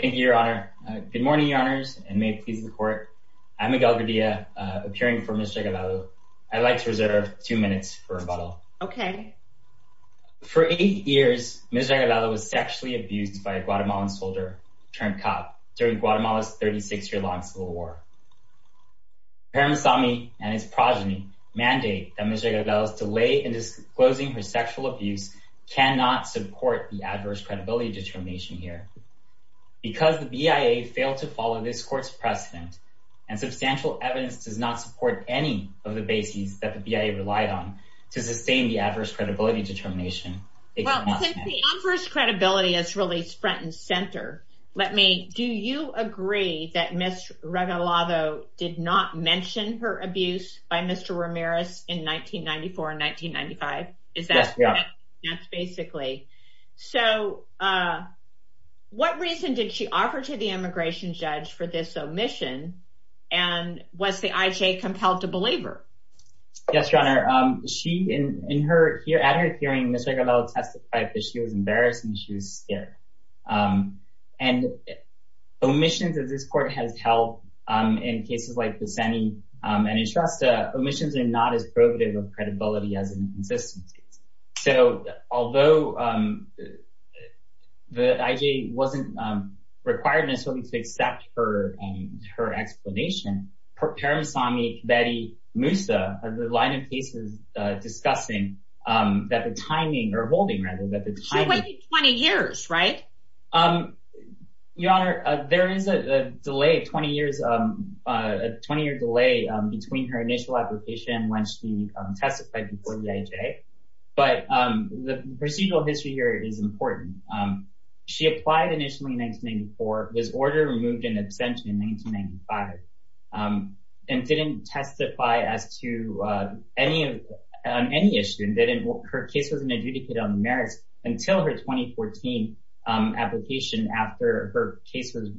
Thank you, Your Honor. Good morning, Your Honors, and may it please the Court. I'm Miguel Gaviria, appearing for Ms. Regalado. I'd like to reserve two minutes for rebuttal. Okay. For eight years, Ms. Regalado was sexually abused by a Guatemalan soldier turned cop during Guatemala's 36-year-long civil war. Paramsami and his progeny mandate that Ms. Regalado's delay in disclosing her sexual abuse cannot support the adverse credibility determination here. Because the BIA failed to follow this court's precedent and substantial evidence does not support any of the bases that the BIA relied on to sustain the adverse credibility determination. Well, since the adverse credibility is really front and center, let me, do you agree that Ms. Regalado did not mention her abuse by Mr. Ramirez in 1994 and 1995? Yes, we are. That's basically. So, what reason did she offer to the immigration judge for this omission? And was the IJ compelled to believe her? Yes, Your Honor. She, in her, at her hearing, Ms. Regalado testified that she was embarrassed and she was scared. And omissions that this court has held in cases like Buseni and Entrasta, omissions are not as probative of credibility as inconsistencies. So, although the IJ wasn't required necessarily to accept her explanation, Paramsami, Kibete, Musa, the line of cases discussing that the timing, or holding rather, that the timing. She waited 20 years, right? Your Honor, there is a delay, 20 years, a 20 year delay between her initial application when she testified before the IJ. But the procedural history here is important. She applied initially in 1994, was ordered and moved in absentia in 1995, and didn't testify as to any, on any issue, and didn't, her case wasn't adjudicated on the merits until her 2014 application after her case was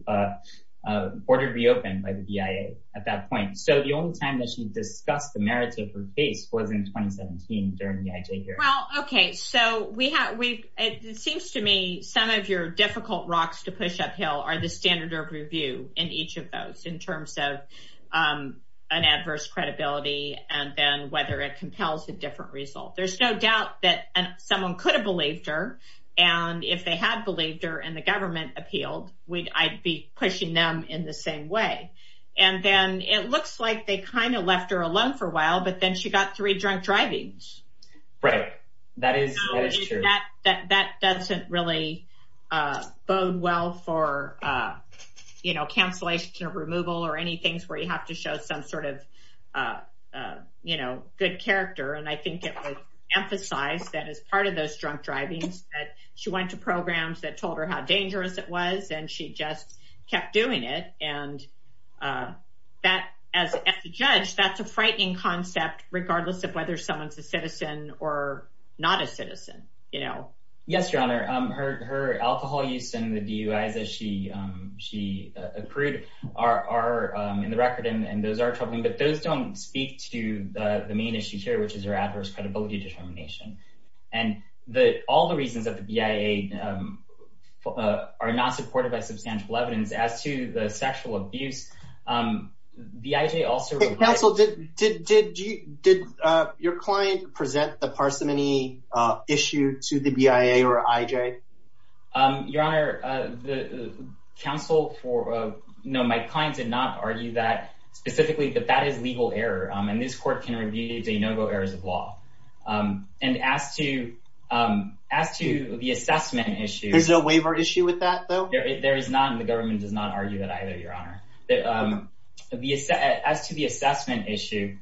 ordered reopened by the BIA at that point. So, the only time that she discussed the merits of her case was in 2017 during the IJ hearing. Well, okay. So, we have, we, it seems to me some of your difficult rocks to push uphill are the standard of review in each of those, in terms of an adverse credibility and then whether it compels a different result. There's no doubt that someone could have believed her, and if they had believed her and the government appealed, we'd, I'd be pushing them in the same way. And then it looks like they kind of left her alone for a while, but then she got three drunk drivings. Right, that is, that is true. That doesn't really bode well for, you know, and I think it would emphasize that as part of those drunk drivings, that she went to programs that told her how dangerous it was, and she just kept doing it. And that, as a judge, that's a frightening concept, regardless of whether someone's a citizen or not a citizen, you know. Yes, Your Honor, her alcohol use and the DUIs that she, she accrued are, are in the record, and those are troubling, but those don't speak to the main issue here, which is her adverse credibility determination. And the, all the reasons that the BIA are not supported by substantial evidence as to the sexual abuse, BIA also... Counsel, did, did, did your client present the parsimony issue to the BIA or IJ? Your Honor, the counsel for, no, my client did not specifically, but that is legal error, and this court can review de novo errors of law. And as to, as to the assessment issue... There's no waiver issue with that, though? There is not, and the government does not argue that either, Your Honor. As to the assessment issue,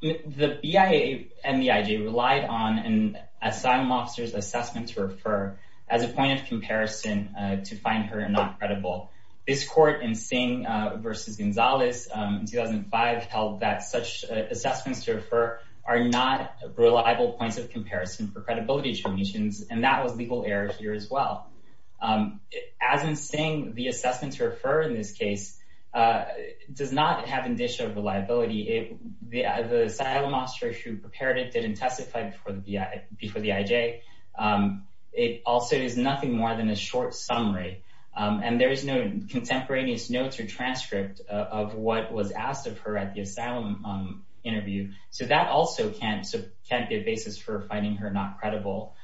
the BIA and the IJ relied on an asylum officer's assessment to refer as a point of comparison to find her not credible. This court in Singh versus Gonzalez in 2005 held that such assessments to refer are not reliable points of comparison for credibility determinations, and that was legal error here as well. As in Singh, the assessment to refer in this case does not have indicia of reliability. It, the, the asylum officer who prepared it didn't testify before the IJ. It also is nothing more than a short summary, and there is no contemporaneous notes or transcript of what was asked of her at the asylum interview, so that also can't, can't be a basis for finding her not credible.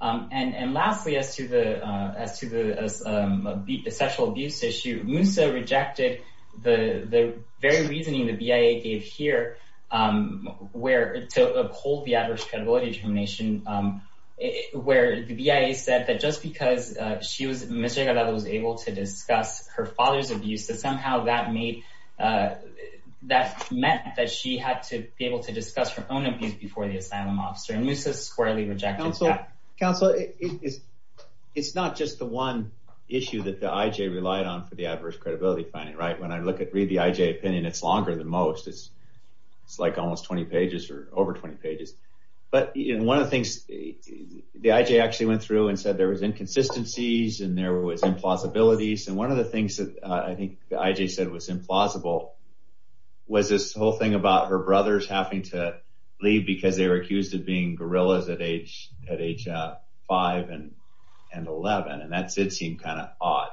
And, and lastly, as to the, as to the sexual abuse issue, Moussa rejected the, the very reasoning the BIA gave here where, to uphold the adverse credibility determination, where the BIA said that just because she was, Mr. Gallardo was able to discuss her father's abuse, that somehow that made, that meant that she had to be able to discuss her own abuse before the asylum officer, and Moussa squarely rejected that. Counsel, it's, it's not just the one issue that the IJ relied on for the adverse credibility finding, right? When I look at, read the IJ opinion, it's longer than most. It's, it's like almost 20 pages or over 20 pages. But, you know, one of the things the IJ actually went through and said there was inconsistencies and there was implausibilities, and one of the things that I think the IJ said was implausible was this whole thing about her brothers having to leave because they were five and, and 11, and that did seem kind of odd.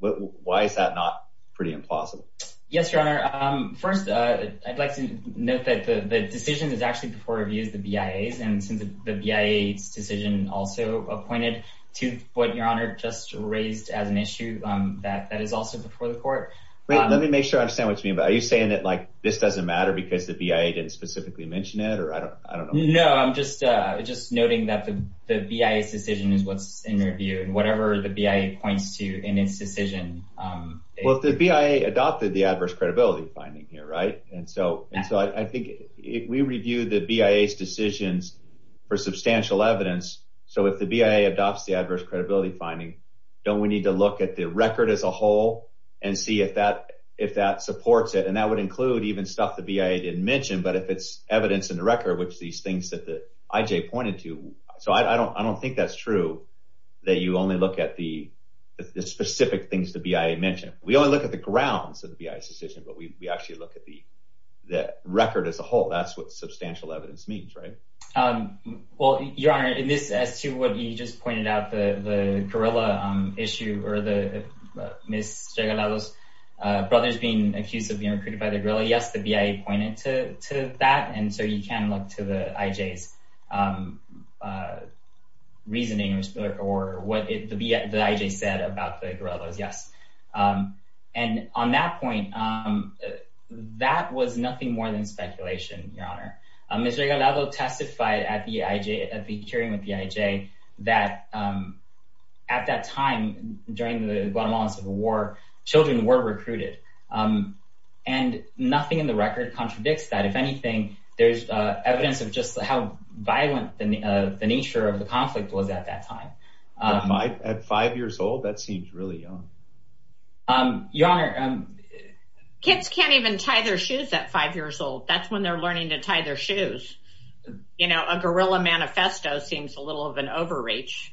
Why is that not pretty implausible? Yes, your honor. First, I'd like to note that the decision is actually before reviews, the BIA's, and since the BIA's decision also pointed to what your honor just raised as an issue that, that is also before the court. Let me make sure I understand what you mean by, are you saying that like this doesn't matter because the BIA didn't specifically mention it or I don't, I don't know. No, I'm just, just noting that the, the BIA's decision is what's in review and whatever the BIA points to in its decision. Well, the BIA adopted the adverse credibility finding here, right? And so, and so I think if we review the BIA's decisions for substantial evidence, so if the BIA adopts the adverse credibility finding, don't we need to look at the record as a whole and see if that, if that supports it. And that would include even stuff the BIA didn't mention, but if it's evidence in the record, which these things that the IJ pointed to, so I don't, I don't think that's true that you only look at the specific things the BIA mentioned. We only look at the grounds of the BIA's decision, but we actually look at the, the record as a whole. That's what substantial evidence means, right? Well, your honor, in this as to what you just pointed out, the, the gorilla issue or the Ms. Regalado's brother's being accused of being recruited by the gorilla. Yes, the BIA pointed to, to that. And so you can look to the IJ's reasoning or what the IJ said about the gorillas. Yes. And on that point, that was nothing more than speculation, your honor. Ms. Regalado testified at the IJ, at the hearing with the IJ that at that time during the Guatemalan civil war, children were recruited. And nothing in the record contradicts that. If anything, there's evidence of just how violent the nature of the conflict was at that time. At five years old, that seems really young. Your honor. Kids can't even tie their shoes at five years old. That's when they're learning to tie their shoes. You know, a gorilla manifesto seems a little of an overreach.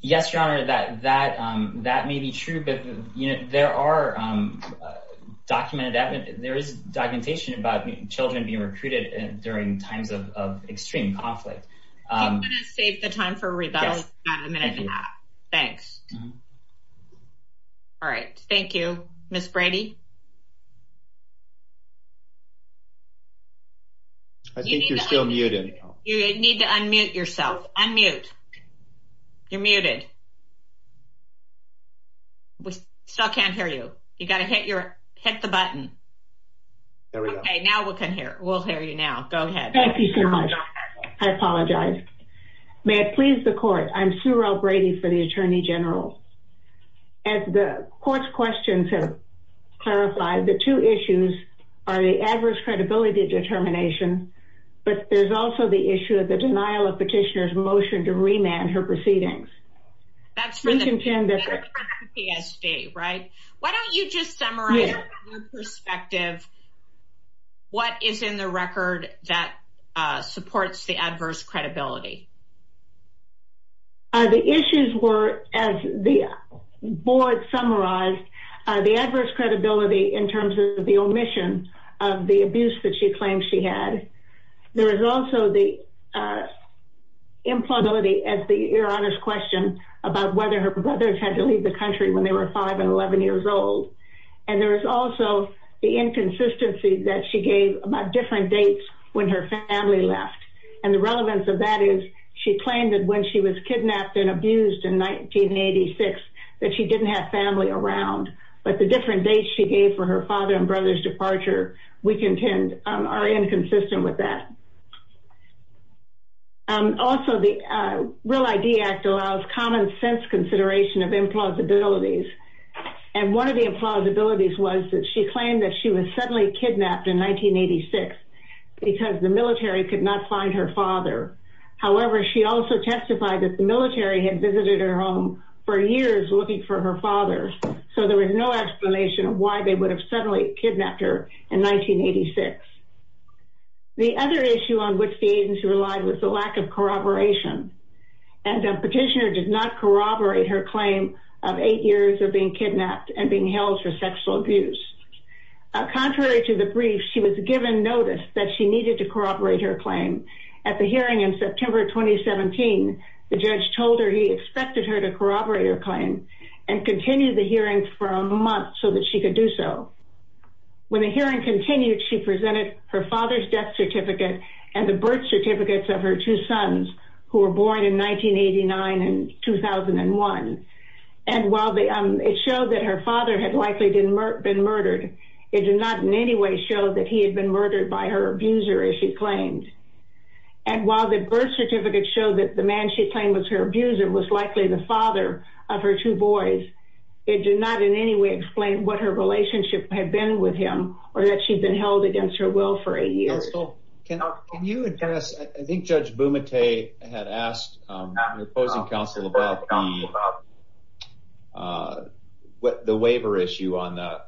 Yes, your honor, that, that, that may be true, but there are documented evidence, there is documentation about children being recruited during times of extreme conflict. I'm going to save the time for rebuttal in a minute and a half. Thanks. All right. Thank you, Ms. Brady. I think you're still muted. You need to unmute yourself. Unmute. You're muted. We still can't hear you. You got to hit your, hit the button. There we go. Okay, now we can hear, we'll hear you now. Go ahead. Thank you so much. I apologize. May it please the court. I'm Sue Rowe Brady for the Attorney General. As the court's questions have clarified, the two issues are the adverse credibility determination, but there's also the issue of the denial of petitioner's motion to remand her proceedings. That's for the PSD, right? Why don't you just summarize your perspective, what is in the record that supports the adverse credibility? The issues were, as the board summarized, the adverse credibility in terms of the omission of the abuse that she claims she had. There is also the implausibility, as your Honor's question, about whether her brothers had to leave the country when they were five and 11 years old. And there is also the inconsistency that she gave about different dates when her family left. And the relevance of that is she claimed that when she was kidnapped and abused in 1986, that she didn't have family around. But the different dates she gave for her father and brother's departure, we contend, are inconsistent with that. Also, the Real ID Act allows common sense consideration of implausibilities. And one of the implausibilities was that she claimed that was suddenly kidnapped in 1986 because the military could not find her father. However, she also testified that the military had visited her home for years looking for her father. So there was no explanation of why they would have suddenly kidnapped her in 1986. The other issue on which the agency relied was the lack of corroboration. And the petitioner did not corroborate her claim of eight years of being kidnapped and being held for sexual abuse. Contrary to the brief, she was given notice that she needed to corroborate her claim. At the hearing in September 2017, the judge told her he expected her to corroborate her claim and continue the hearing for a month so that she could do so. When the hearing continued, she presented her father's death certificate and the birth certificates of her two sons, who were born in 1989 and 2001. And while it showed that her father had likely been murdered, it did not in any way show that he had been murdered by her abuser, as she claimed. And while the birth certificate showed that the man she claimed was her abuser was likely the father of her two boys, it did not in any way explain what her relationship had been with him or that she'd been held against her will for a year. Counsel, can you address, I think Judge Bumate had asked the opposing counsel about the waiver issue on the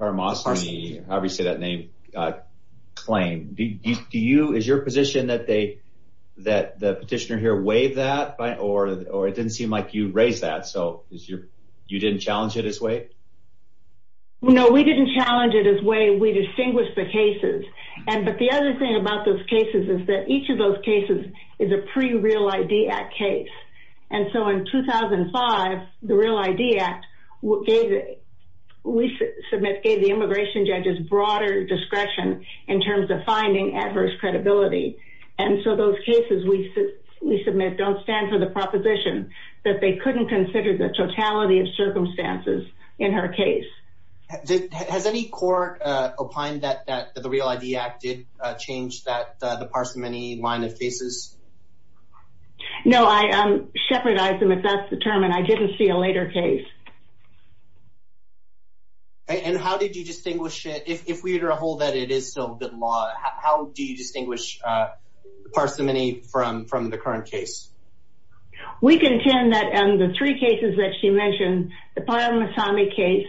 Karamasini, however you say that name, claim. Is your position that the petitioner here waived that or it didn't seem like you raised that, so you didn't challenge it as waived? No, we didn't challenge it as waived, we distinguished the cases. But the other thing about those cases is that each of those cases is a pre-Real ID Act case. And so in 2005, the Real ID Act, we submit, gave the immigration judges broader discretion in terms of finding adverse credibility. And so those cases we submit don't stand for the proposition that they couldn't consider the totality of circumstances in her case. Has any court opined that the Real ID Act did change the parsimony line of the case? No, I shepherdized them, if that's the term, and I didn't see a later case. And how did you distinguish, if we were to hold that it is still good law, how do you distinguish parsimony from the current case? We contend that in the three cases that she mentioned, the Karamasini case,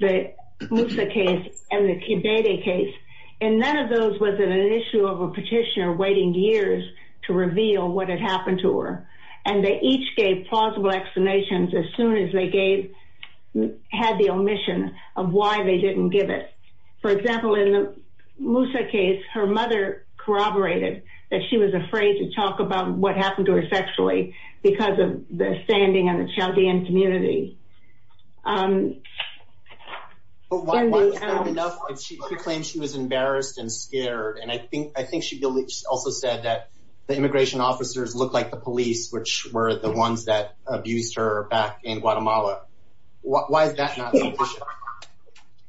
the Musa case, and the Kibede case, and none of those was an issue of a petitioner waiting years to reveal what had happened to her. And they each gave plausible explanations as soon as they had the omission of why they didn't give it. For example, in the Musa case, her mother corroborated that she was afraid to talk about what happened to her sexually because of the standing in the Chaldean community. But why was that enough? She claimed she was embarrassed and scared, and I think she also said that the immigration officers looked like the police, which were the ones that abused her back in Guatemala. Why is that not sufficient?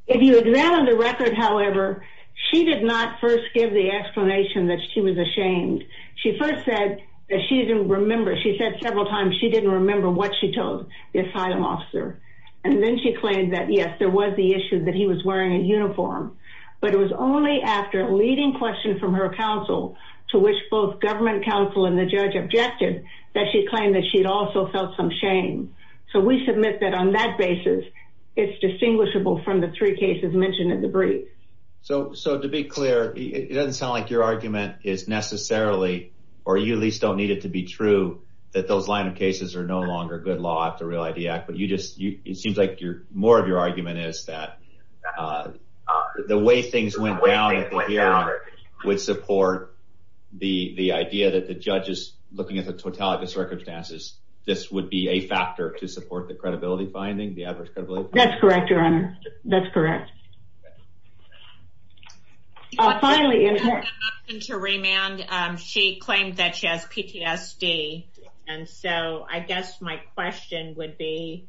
If you examine the record, however, she did not first give the explanation that she was ashamed. She first said that she didn't remember. She said several times she didn't remember what she told the asylum officer. And then she claimed that, yes, there was the issue that he was wearing a uniform. But it was only after a leading question from her counsel, to which both government counsel and the judge objected, that she claimed that she'd also felt some shame. So we submit that on that basis, it's distinguishable from the three cases mentioned in the brief. So to be clear, it doesn't sound like your argument is necessarily, or you at least don't need it to be true, that those line of cases are no longer good law after the Real ID Act, but it seems like more of your argument is that the way things went down at the hearing would support the idea that the judge is looking at the totality of circumstances. This would be a factor to support the credibility finding, the adverse credibility finding? That's correct, Your Honor. That's correct. Finally, in addition to remand, she claimed that she has PTSD. And so I guess my question would be,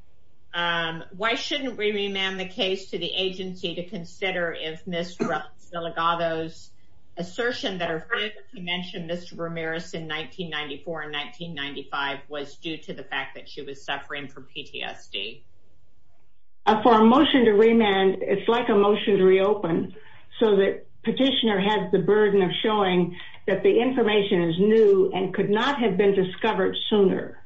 why shouldn't we remand the case to the agency to consider if Ms. Zilligato's assertion that her family mentioned Mr. Ramirez in 1994 and 1995 was due to the fact that she was suffering from PTSD? For a motion to remand, it's like a motion to reopen, so that petitioner has the burden of showing that the information is new and could not have been discovered sooner.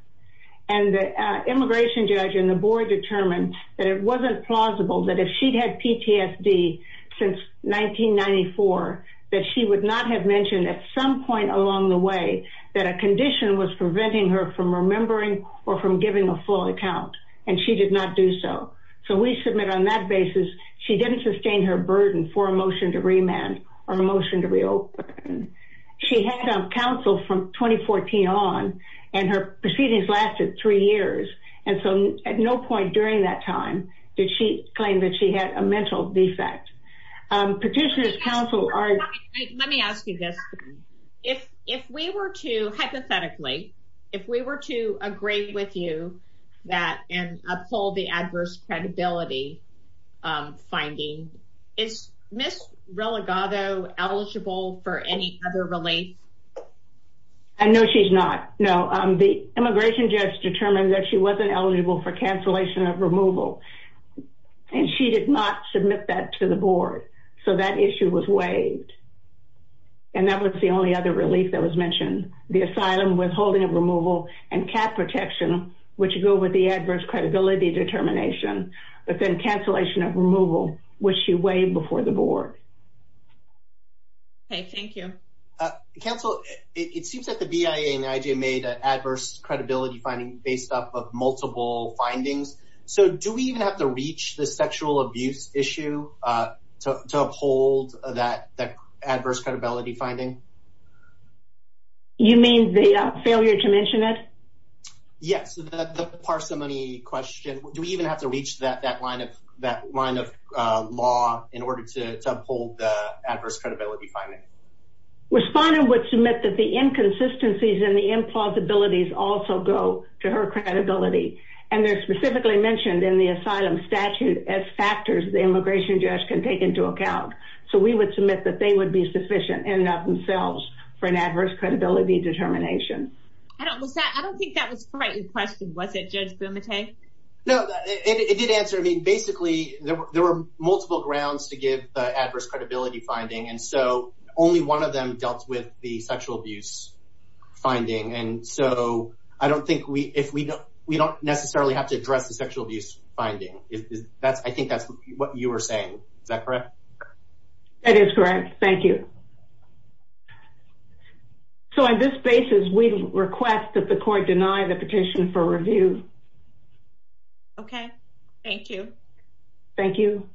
And the immigration judge and the board determined that it wasn't plausible that if she'd had PTSD since 1994, that she would not have mentioned at some point along the way that a condition was preventing her from remembering or from giving a full account, and she did not do so. So we submit on that basis, she didn't sustain her burden for a motion to remand or a motion to reopen. She had counsel from 2014 on, and her proceedings lasted three years. And so at no point during that time did she claim that she had a mental defect. Petitioners counsel are... Let me ask you this. If we were to, hypothetically, if we were to agree with you that and uphold the adverse credibility finding, is Ms. Zilligato eligible for any other relief? No, she's not. No, the immigration judge determined that she wasn't eligible for cancellation of removal, and she did not submit that to the board, so that issue was waived. And that was the only other relief that was mentioned. The asylum withholding of removal and cap protection, which go with the adverse credibility determination, but then cancellation of removal, which she waived before the board. Okay, thank you. Counsel, it seems that the BIA and the IJ made an adverse credibility finding based off of multiple findings. So do we even have to reach the sexual abuse issue to uphold that adverse credibility finding? You mean the failure to mention it? Yes, the parsimony question. Do we even have to reach that line of law in order to uphold the adverse credibility finding? Respondent would submit that the inconsistencies and the plausibilities also go to her credibility. And they're specifically mentioned in the asylum statute as factors the immigration judge can take into account. So we would submit that they would be sufficient in and of themselves for an adverse credibility determination. I don't think that was quite your question, was it, Judge Bumate? No, it did answer. I mean, basically, there were multiple grounds to give the adverse credibility finding, and so only one of them dealt with the So I don't think we don't necessarily have to address the sexual abuse finding. I think that's what you were saying. Is that correct? That is correct. Thank you. So on this basis, we request that the court deny the petition for review. Okay, thank you. Thank you.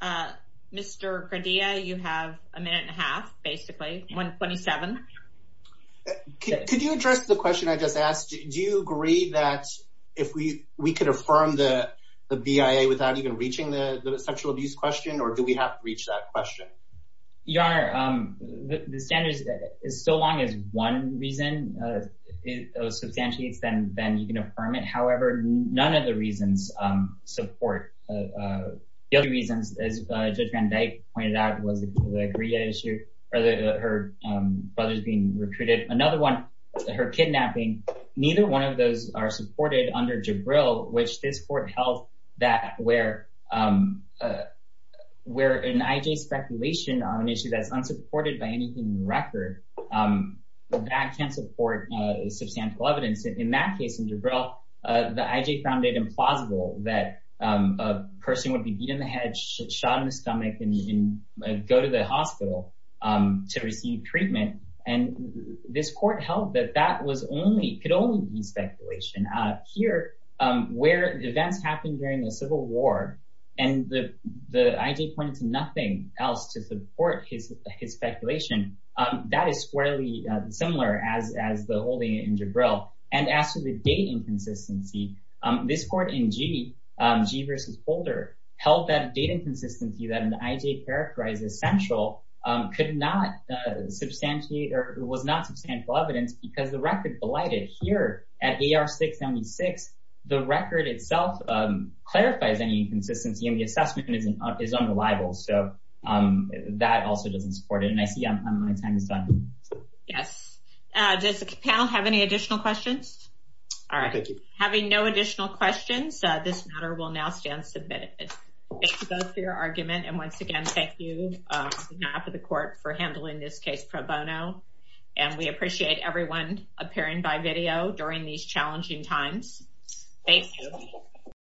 Uh, Mr. Cordea, you have a minute and a half, basically 127. Could you address the question I just asked? Do you agree that if we we could affirm the BIA without even reaching the sexual abuse question? Or do we have to reach that question? Your Honor, the standards is so long as one reason. If it was substantiates, then then you affirm it. However, none of the reasons support. The other reasons, as Judge Van Dyke pointed out, was the Greer issue, or the her brothers being recruited. Another one, her kidnapping. Neither one of those are supported under Jabril, which this court held that where, where an IJ speculation on an issue that's unsupported by anything record, that can support substantial evidence. In that case, in Jabril, the IJ found it implausible that a person would be beat in the head, shot in the stomach, and go to the hospital to receive treatment. And this court held that that was only could only be speculation. Here, where events happened during the Civil War, and the IJ pointed to nothing else to support his squarely similar as as the holding in Jabril. And as to the date inconsistency, this court in G, G versus Holder, held that date inconsistency that an IJ characterized as central, could not substantiate or was not substantial evidence because the record blighted. Here at AR 676, the record itself clarifies any inconsistency and the assessment is unreliable. So that also doesn't support it. And I see I'm on my time is done. Yes. Does the panel have any additional questions? All right. Thank you. Having no additional questions, this matter will now stand submitted. Thank you both for your argument. And once again, thank you for the court for handling this case pro bono. And we appreciate everyone appearing by video during these challenging times. Thank you.